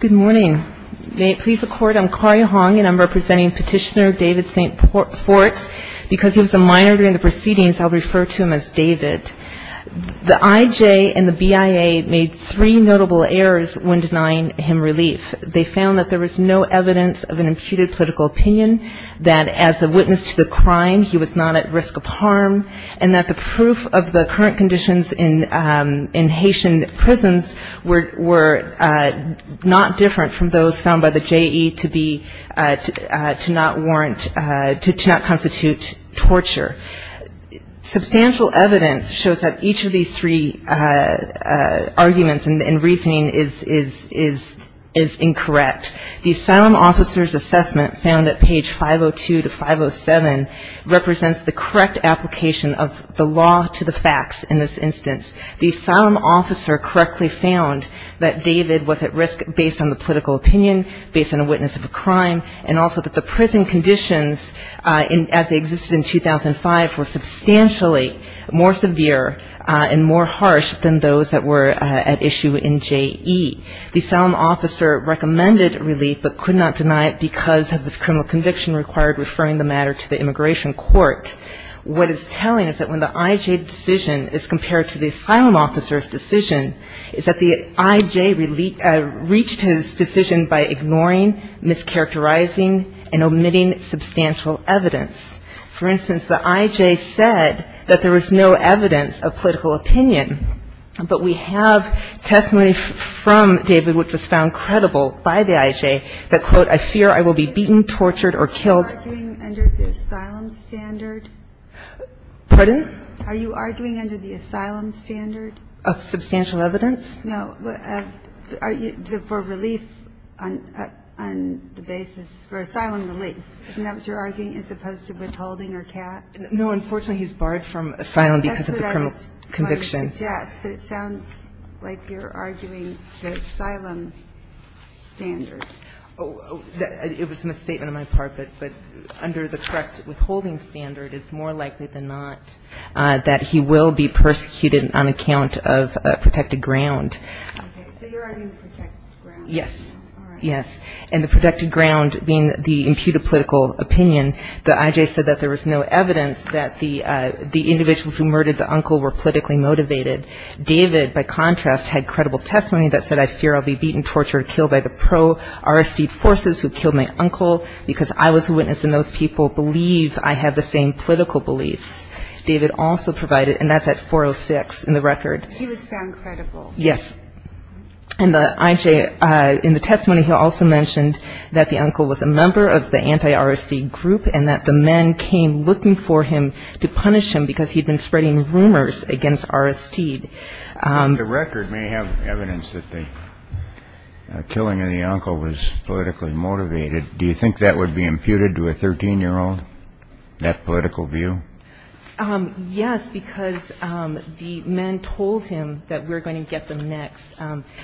Good morning. May it please the Court, I'm Claudia Hong and I'm representing Petitioner David St. Fort because he was a minor during the proceedings, I'll refer to him as David. The IJ and the BIA made three notable errors when denying him relief. They found that there was no evidence of an imputed political opinion, that as a witness to the crime he was not at risk of harm, and that the proof of the current conditions in Haitian prisons were not different from those found by the J.E. to not warrant, to not constitute torture. Substantial evidence shows that each of these three arguments and reasoning is incorrect. The asylum officer's assessment found that page 502 to 507 represents the correct application of the law to the facts in this instance. The asylum officer correctly found that David was at risk based on the political opinion, based on a witness of a crime, and also that the prison conditions as they existed in 2005 were substantially more severe and more harsh than those that were at issue in J.E. The asylum officer recommended relief but could not deny it because of this criminal conviction required referring the matter to the immigration court. What is telling is that when the IJ decision is compared to the asylum officer's decision is that the IJ reached his decision by ignoring, mischaracterizing, and omitting substantial evidence. For instance, the IJ said that there was no evidence of political opinion, but we have testimony from David which was found credible by the IJ that, quote, I fear I will be beaten, tortured, or killed. Are you arguing under the asylum standard? Pardon? Are you arguing under the asylum standard? Of substantial evidence? No. Are you for relief on the basis for asylum relief? Isn't that what you're arguing as opposed to withholding or cat? No. Unfortunately, he's barred from asylum because of the criminal conviction. That's what I suggest, but it sounds like you're arguing the asylum standard. It was a misstatement on my part, but under the correct withholding standard, it's more likely than not that he will be persecuted on account of protected ground. Okay. So you're arguing protected ground? Yes. All right. Yes. And the protected ground being the imputed political opinion, the IJ said that there was no evidence that the individuals who murdered the uncle were politically motivated. David, by contrast, had credible testimony that said, I fear I'll be beaten, tortured, killed by the pro-RSD forces who killed my uncle because I was a witness and those people believe I have the same political beliefs. David also provided, and that's at 406 in the record. He was found credible. Yes. And the IJ, in the testimony, he also mentioned that the uncle was a member of the anti-RSD group and that the men came looking for him to punish him because he'd been spreading rumors against RSD. The record may have evidence that the killing of the uncle was politically motivated. Do you think that would be imputed to a 13-year-old, that political view? Yes, because the men told him that we're going to get them next.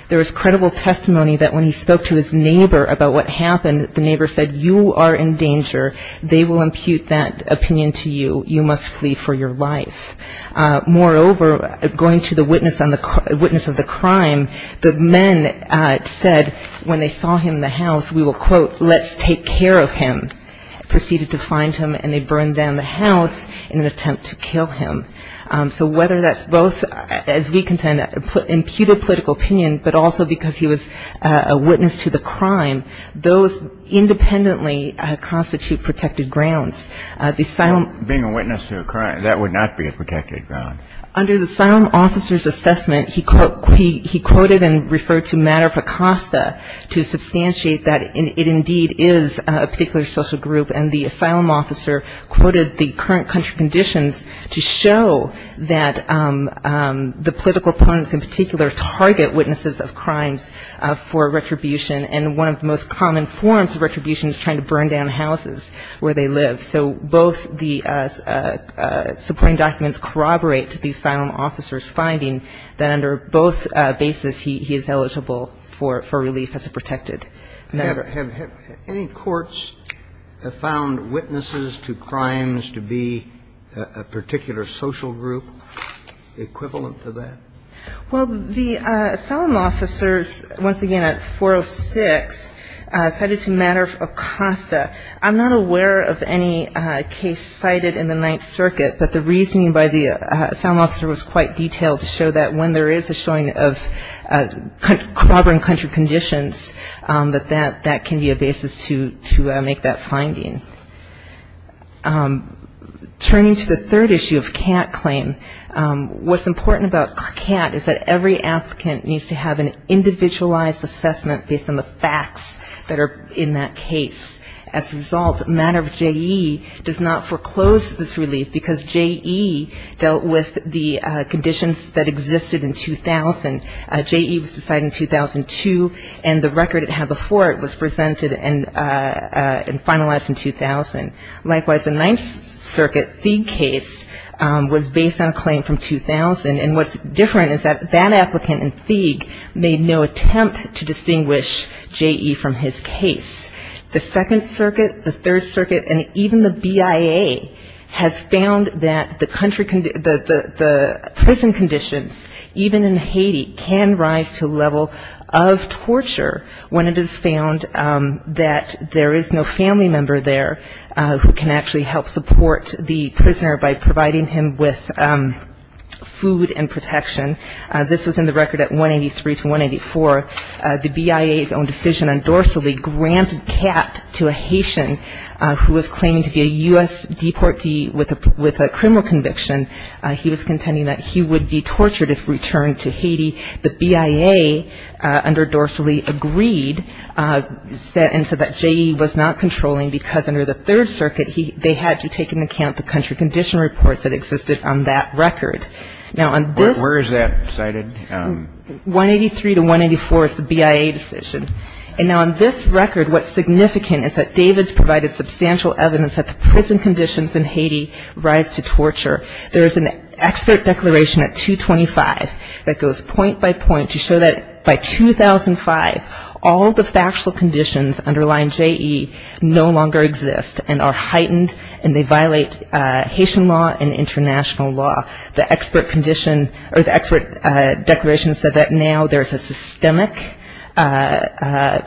There was credible testimony that when he spoke to his neighbor about what happened, the neighbor said, you are in danger. They will impute that opinion to you. You must flee for your life. Moreover, going to the witness of the crime, the men said when they saw him in the house, we will, quote, let's take care of him. They proceeded to find him, and they burned down the house in an attempt to kill him. So whether that's both, as we contend, imputed political opinion, but also because he was a witness to the crime, those independently constitute protected grounds. Being a witness to a crime, that would not be a protected ground. Under the asylum officer's assessment, he quoted and referred to Matter-of-a-Costa to substantiate that it indeed is a particular social group, and the asylum officer quoted the current country conditions to show that the political opponents in particular target witnesses of crimes for retribution, and one of the most common forms of retribution is trying to burn down houses where they live. So both the supporting documents corroborate to the asylum officer's finding that under both bases, he is eligible for relief as a protected member. Have any courts found witnesses to crimes to be a particular social group equivalent to that? Well, the asylum officers, once again, at 406, cited to Matter-of-a-Costa. I'm not aware of any case cited in the Ninth Circuit, but the reasoning by the asylum officer was quite detailed to show that when there is a showing of corroborating country conditions, that that can be a basis to make that finding. Turning to the third issue of Catt claim, what's important about Catt is that every applicant needs to have an individualized assessment based on the facts that are in that case. As a result, Matter-of-J.E. does not foreclose this relief because J.E. dealt with the conditions that existed in 2000. J.E. was decided in 2002, and the record it had before it was presented and finalized in 2000. Likewise, the Ninth Circuit Thieg case was based on a claim from 2000, and what's different is that that applicant in Thieg made no attempt to distinguish J.E. from his case. The Second Circuit, the Third Circuit, and even the BIA has found that the prison conditions, even in Haiti, can rise to a level of torture when it is found that there is no family member there who can actually help support the prisoner by providing him with food and protection. This was in the record at 183 to 184. The BIA's own decision on Dorsalee granted Catt to a Haitian who was claiming to be a U.S. deportee with a criminal conviction. He was contending that he would be tortured if returned to Haiti. The BIA under Dorsalee agreed and said that J.E. was not controlling because under the Third Circuit, they had to take into account the country condition reports that existed on that record. Now, on this ‑‑ Where is that cited? 183 to 184 is the BIA decision. And now on this record, what's significant is that David's provided substantial evidence that the prison conditions in Haiti rise to torture. There is an expert declaration at 225 that goes point by point to show that by 2005, all the factual conditions underlying J.E. no longer exist and are heightened, and they violate Haitian law and international law. The expert condition ‑‑ or the expert declaration said that now there is a systemic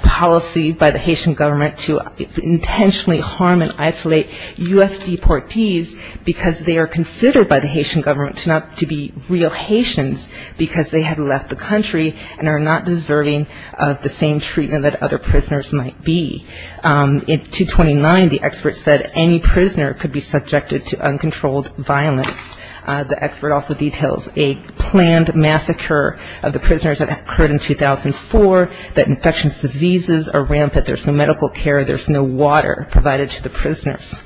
policy by the Haitian government to intentionally harm and isolate U.S. deportees because they are considered by the Haitian government to be real Haitians because they have left the country and are not deserving of the same treatment that other prisoners might be. In 229, the expert said any prisoner could be subjected to uncontrolled violence. The expert also details a planned massacre of the prisoners that occurred in 2004, that infectious diseases are rampant, there's no medical care, there's no water provided to the prisoners.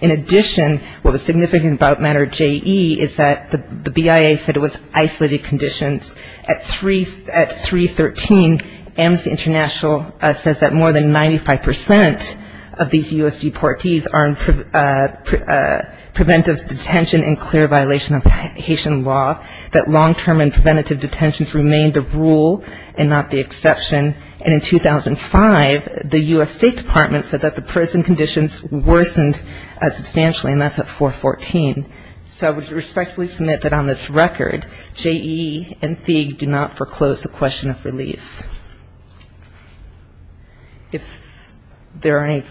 In addition, what was significant about matter J.E. is that the BIA said it was isolated conditions. At 313, Amnesty International says that more than 95% of these U.S. deportees are in preventive detention and clear violation of Haitian law, that long‑term and preventative detentions remain the rule and not the exception. And in 2005, the U.S. State Department said that the prison conditions worsened substantially, and that's at 414. So I would respectfully submit that on this record, J.E. and FEAG do not foreclose the question of relief. If there are any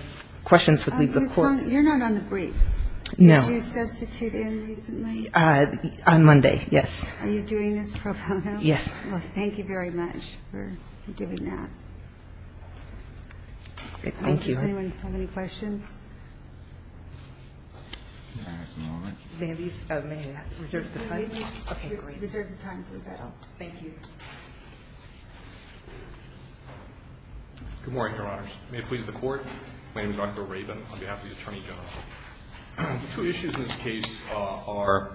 questions, we'll leave the court. You're not on the briefs. No. Did you substitute in recently? On Monday, yes. Are you doing this pro bono? Yes. Well, thank you very much for doing that. Thank you. Does anyone have any questions? May I ask a moment? May I reserve the time? Okay, great. Reserve the time for the panel. Thank you. Good morning, Your Honors. May it please the Court. My name is Michael Rabin on behalf of the Attorney General. The two issues in this case are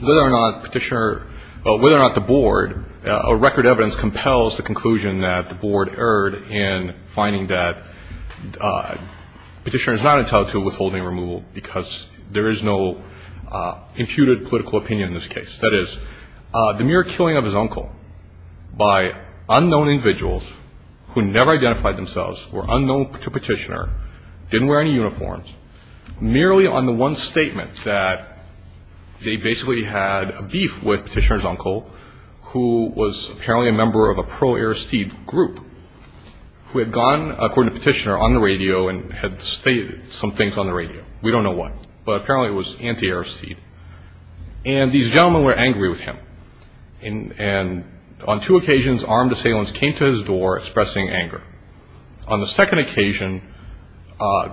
whether or not Petitioner ‑‑ whether or not the Board, or record evidence compels the conclusion that the Board erred in finding that Petitioner is not entitled to withholding removal because there is no imputed political opinion in this case. That is, the mere killing of his uncle by unknown individuals who never identified themselves, were unknown to Petitioner, didn't wear any uniforms, merely on the one statement that they basically had a beef with Petitioner's uncle, who was apparently a member of a pro-Aristide group, who had gone, according to Petitioner, on the radio and had stated some things on the radio. We don't know what, but apparently it was anti-Aristide. And these gentlemen were angry with him. And on two occasions, armed assailants came to his door expressing anger. On the second occasion,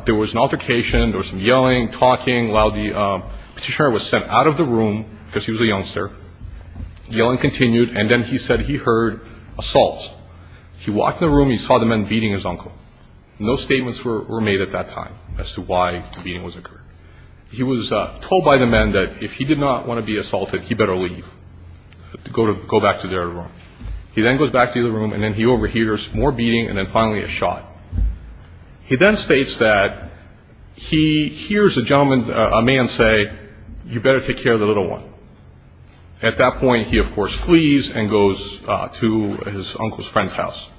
there was an altercation, there was some yelling, talking, while Petitioner was sent out of the room because he was a youngster. Yelling continued, and then he said he heard assault. He walked in the room and he saw the men beating his uncle. No statements were made at that time as to why the beating was occurred. He was told by the men that if he did not want to be assaulted, he better leave. Go back to their room. He then goes back to the room and then he overhears more beating and then finally a shot. He then states that he hears a man say, you better take care of the little one. At that point, he, of course, flees and goes to his uncle's friend's house.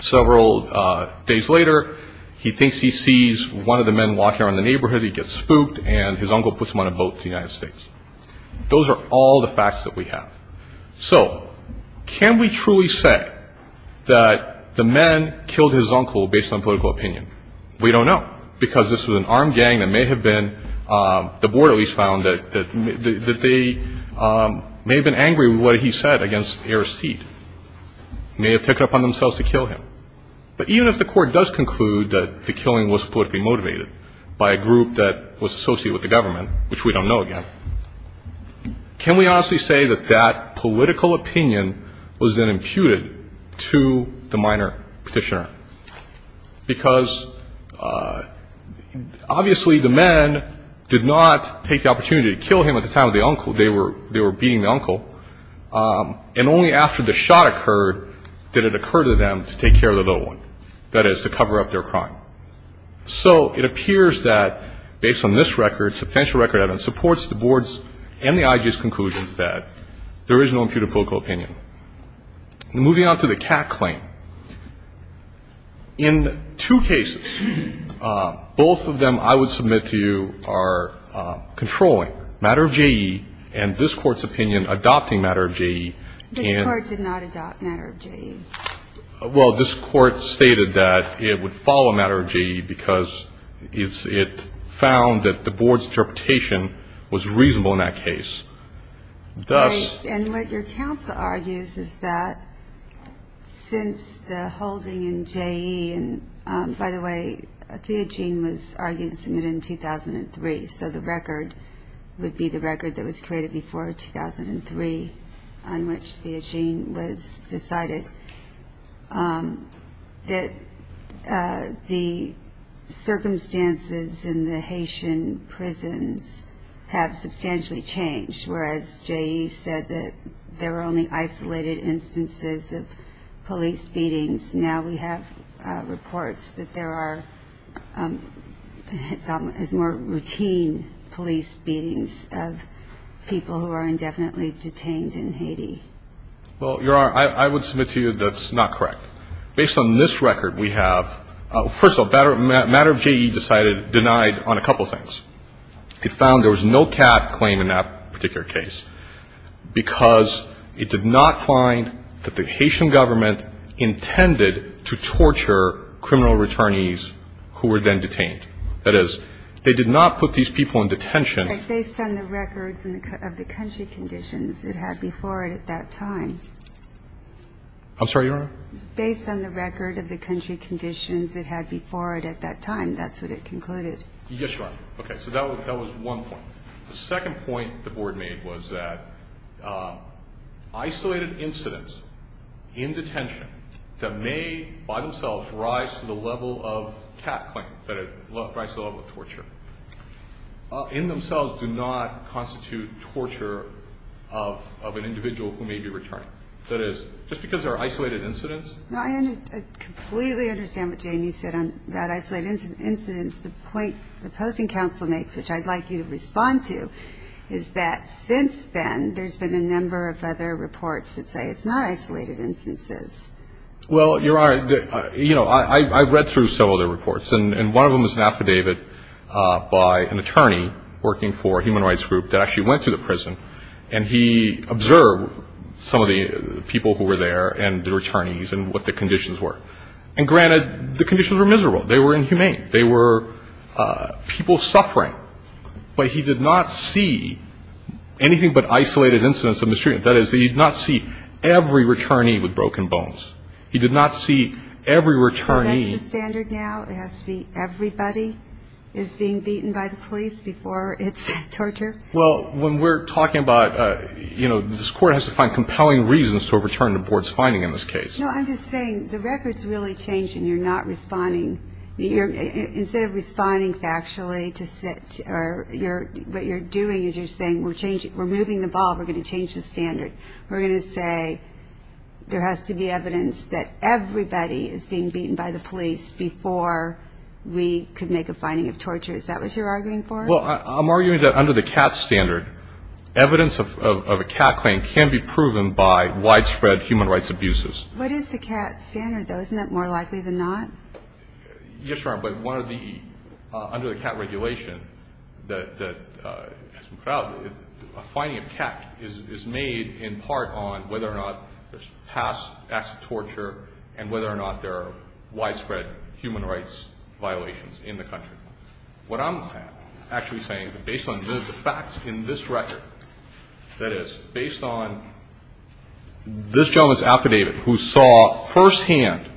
Several days later, he thinks he sees one of the men walking around the neighborhood. He gets spooked, and his uncle puts him on a boat to the United States. Those are all the facts that we have. So can we truly say that the men killed his uncle based on political opinion? We don't know, because this was an armed gang that may have been, the board at least found, that they may have been angry with what he said against Aristide. They may have taken it upon themselves to kill him. But even if the Court does conclude that the killing was politically motivated by a group that was associated with the government, which we don't know, again, can we honestly say that that political opinion was then imputed to the minor petitioner? Because obviously the men did not take the opportunity to kill him at the time of the uncle. They were beating the uncle. And only after the shot occurred did it occur to them to take care of the little one, that is, to cover up their crime. So it appears that, based on this record, substantial record evidence supports the board's and the IG's conclusion that there is no imputed political opinion. Moving on to the CAC claim, in two cases, both of them I would submit to you are controlling matter of JE and this Court's opinion adopting matter of JE. This Court did not adopt matter of JE. Well, this Court stated that it would follow matter of JE because it found that the board's interpretation was reasonable in that case. And what your counsel argues is that since the holding in JE, and by the way, Theogene was argued and submitted in 2003, so the record would be the record that was created before 2003 on which Theogene was decided, that the circumstances in the Haitian prisons have substantially changed, whereas JE said that there were only isolated instances of police beatings. And now we have reports that there are more routine police beatings of people who are indefinitely detained in Haiti. Well, Your Honor, I would submit to you that's not correct. Based on this record we have, first of all, matter of JE decided denied on a couple of things. It found there was no CAC claim in that particular case because it did not find that the Haitian government intended to torture criminal returnees who were then detained. That is, they did not put these people in detention. But based on the records of the country conditions it had before it at that time. I'm sorry, Your Honor? Based on the record of the country conditions it had before it at that time, that's what it concluded. Yes, Your Honor. Okay. So that was one point. The second point the Board made was that isolated incidents in detention that may by themselves rise to the level of CAC claim, that it rises to the level of torture, in themselves do not constitute torture of an individual who may be returning. That is, just because there are isolated incidents. I completely understand what Jamie said about isolated incidents. The point the opposing counsel makes, which I'd like you to respond to, is that since then there's been a number of other reports that say it's not isolated instances. Well, Your Honor, you know, I've read through several of their reports, and one of them is an affidavit by an attorney working for a human rights group that actually went to the prison, and he observed some of the people who were there and the returnees and what the conditions were. And granted, the conditions were miserable. They were inhumane. They were people suffering. But he did not see anything but isolated incidents of mistreatment. That is, he did not see every returnee with broken bones. He did not see every returnee. So that's the standard now? It has to be everybody is being beaten by the police before it's torture? Well, when we're talking about, you know, this court has to find compelling reasons to overturn the board's finding in this case. No, I'm just saying the record's really changing. You're not responding. Instead of responding factually to what you're doing, you're saying we're moving the ball, we're going to change the standard. We're going to say there has to be evidence that everybody is being beaten by the police before we could make a finding of torture. Is that what you're arguing for? Well, I'm arguing that under the CAT standard, evidence of a CAT claim can be proven by widespread human rights abuses. What is the CAT standard, though? Isn't that more likely than not? Yes, Your Honor, but one of the under the CAT regulation that has been put out, a finding of CAT is made in part on whether or not there's past acts of torture and whether or not there are widespread human rights violations in the country. What I'm actually saying, based on the facts in this record, that is, based on this gentleman's affidavit who saw firsthand,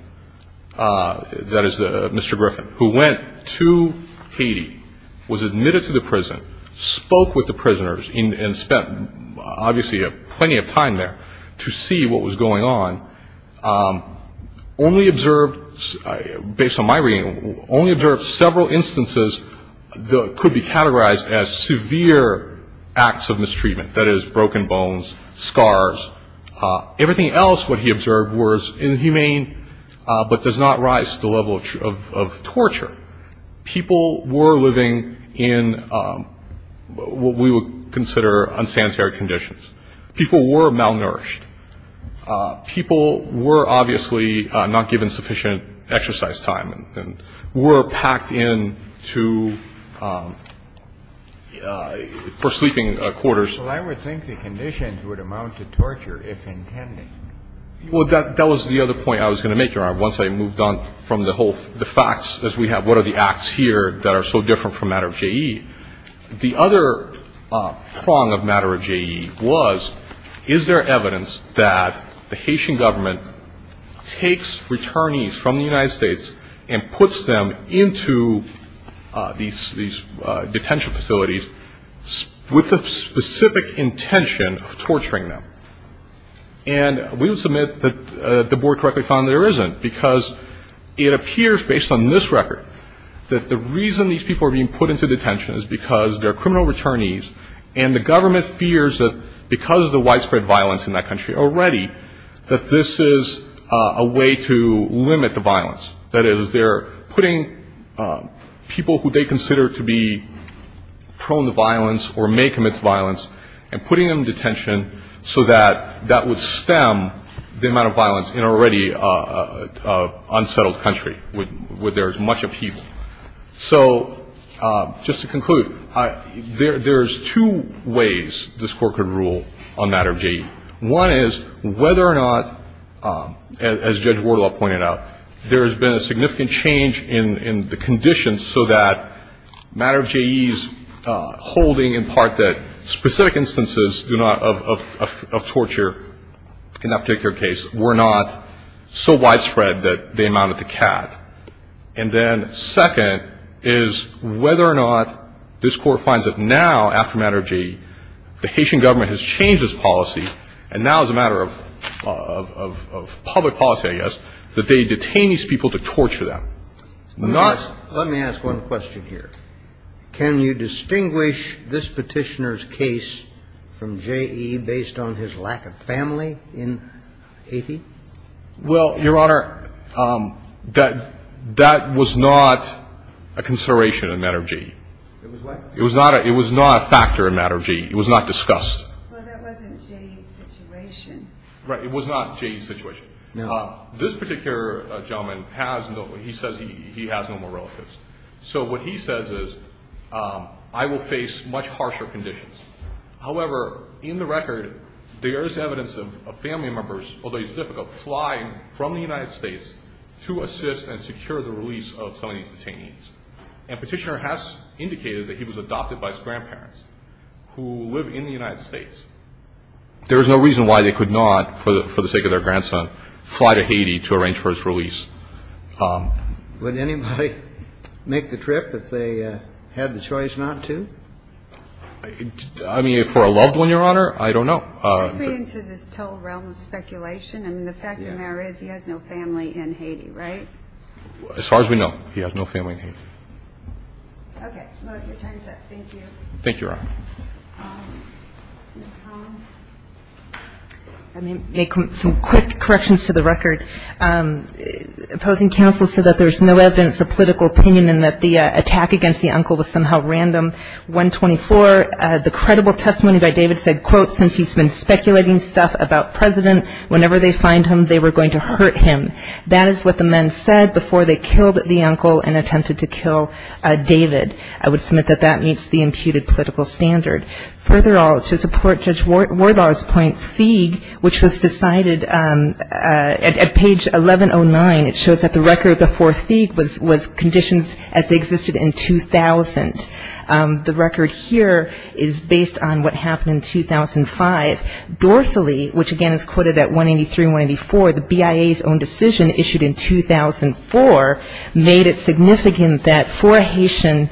that is, Mr. Griffin, who went to Haiti, was admitted to the prison, spoke with the prisoners and spent obviously plenty of time there to see what was going on, only observed, based on my reading, only observed several instances that could be categorized as severe acts of mistreatment, that is, broken bones, scars. Everything else what he observed was inhumane but does not rise to the level of torture. People were living in what we would consider unsanitary conditions. People were malnourished. People were obviously not given sufficient exercise time and were packed into, for sleeping quarters. Well, I would think the conditions would amount to torture, if intended. Well, that was the other point I was going to make, Your Honor, once I moved on from the whole, the facts as we have, what are the acts here that are so different from matter of JE. The other prong of matter of JE was, is there evidence that the Haitian government takes returnees from the United States and puts them into these detention facilities with the specific intention of torturing them. And we will submit that the Board correctly found there isn't because it appears, based on this record, that the reason these people are being put into detention is because they're criminal returnees and the government fears that because of the widespread violence in that country already, that this is a way to limit the violence. That is, they're putting people who they consider to be prone to violence or may commit violence and putting them in detention so that that would stem the amount of violence in an already unsettled country where there is much upheaval. So just to conclude, there's two ways this Court could rule on matter of JE. One is whether or not, as Judge Wardlaw pointed out, there has been a significant change in the conditions so that matter of JE's holding in part that specific instances do not, of torture in that particular case, were not so widespread that they amounted to cat. And then second is whether or not this Court finds that now, after matter of JE, the Haitian government has changed its policy, and now it's a matter of public policy, I guess, that they detain these people to torture them. Not the other way around. Let me ask one question here. Can you distinguish this Petitioner's case from JE based on his lack of family in Haiti? Well, Your Honor, that was not a consideration in matter of JE. It was what? It was not a factor in matter of JE. It was not discussed. Well, that wasn't JE's situation. Right. It was not JE's situation. No. This particular gentleman has no more relatives. So what he says is, I will face much harsher conditions. However, in the record, there is evidence of family members, although it's difficult, flying from the United States to assist and secure the release of some of these detainees. And Petitioner has indicated that he was adopted by his grandparents, who live in the United States. There is no reason why they could not, for the sake of their grandson, fly to Haiti to arrange for his release. Would anybody make the trip if they had the choice not to? I mean, for a loved one, Your Honor, I don't know. I agree to this total realm of speculation. I mean, the fact of the matter is he has no family in Haiti, right? As far as we know, he has no family in Haiti. Okay. Well, your time is up. Thank you. Thank you, Your Honor. Ms. Holland? I'm going to make some quick corrections to the record. Opposing counsel said that there's no evidence of political opinion and that the attack against the uncle was somehow random. 124, the credible testimony by David said, quote, since he's been speculating stuff about President, whenever they find him, they were going to hurt him. That is what the men said before they killed the uncle and attempted to kill David. I would submit that that meets the imputed political standard. Further all, to support Judge Wardlaw's point, which was decided at page 1109, it shows that the record before Sieg was conditioned as they existed in 2000. The record here is based on what happened in 2005. Dorsally, which again is quoted at 183 and 184, the BIA's own decision issued in 2004, made it significant that for a Haitian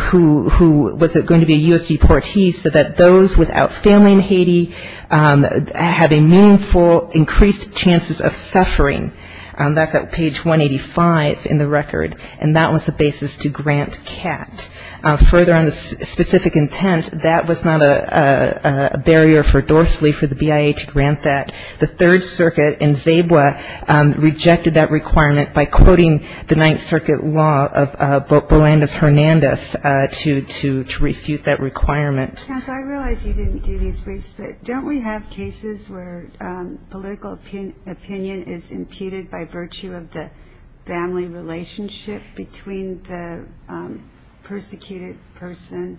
who was going to be a U.S. deportee so that those without family in Haiti had a meaningful increased chances of suffering. That's at page 185 in the record, and that was the basis to grant CAT. Further on the specific intent, that was not a barrier for Dorsally, for the BIA to grant that. The Third Circuit in Zabwe rejected that requirement by quoting the Ninth Circuit law of Berlandez-Hernandez to refute that requirement. I realize you didn't do these briefs, but don't we have cases where political opinion is imputed by virtue of the family relationship between the persecuted person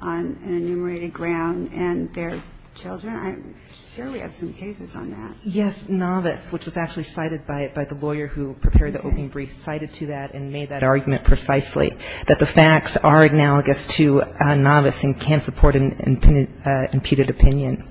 on an enumerated ground and their children? I'm sure we have some cases on that. Yes, novice, which was actually cited by the lawyer who prepared the opening brief, cited to that and made that argument precisely, that the facts are analogous to novice and can't support an imputed opinion.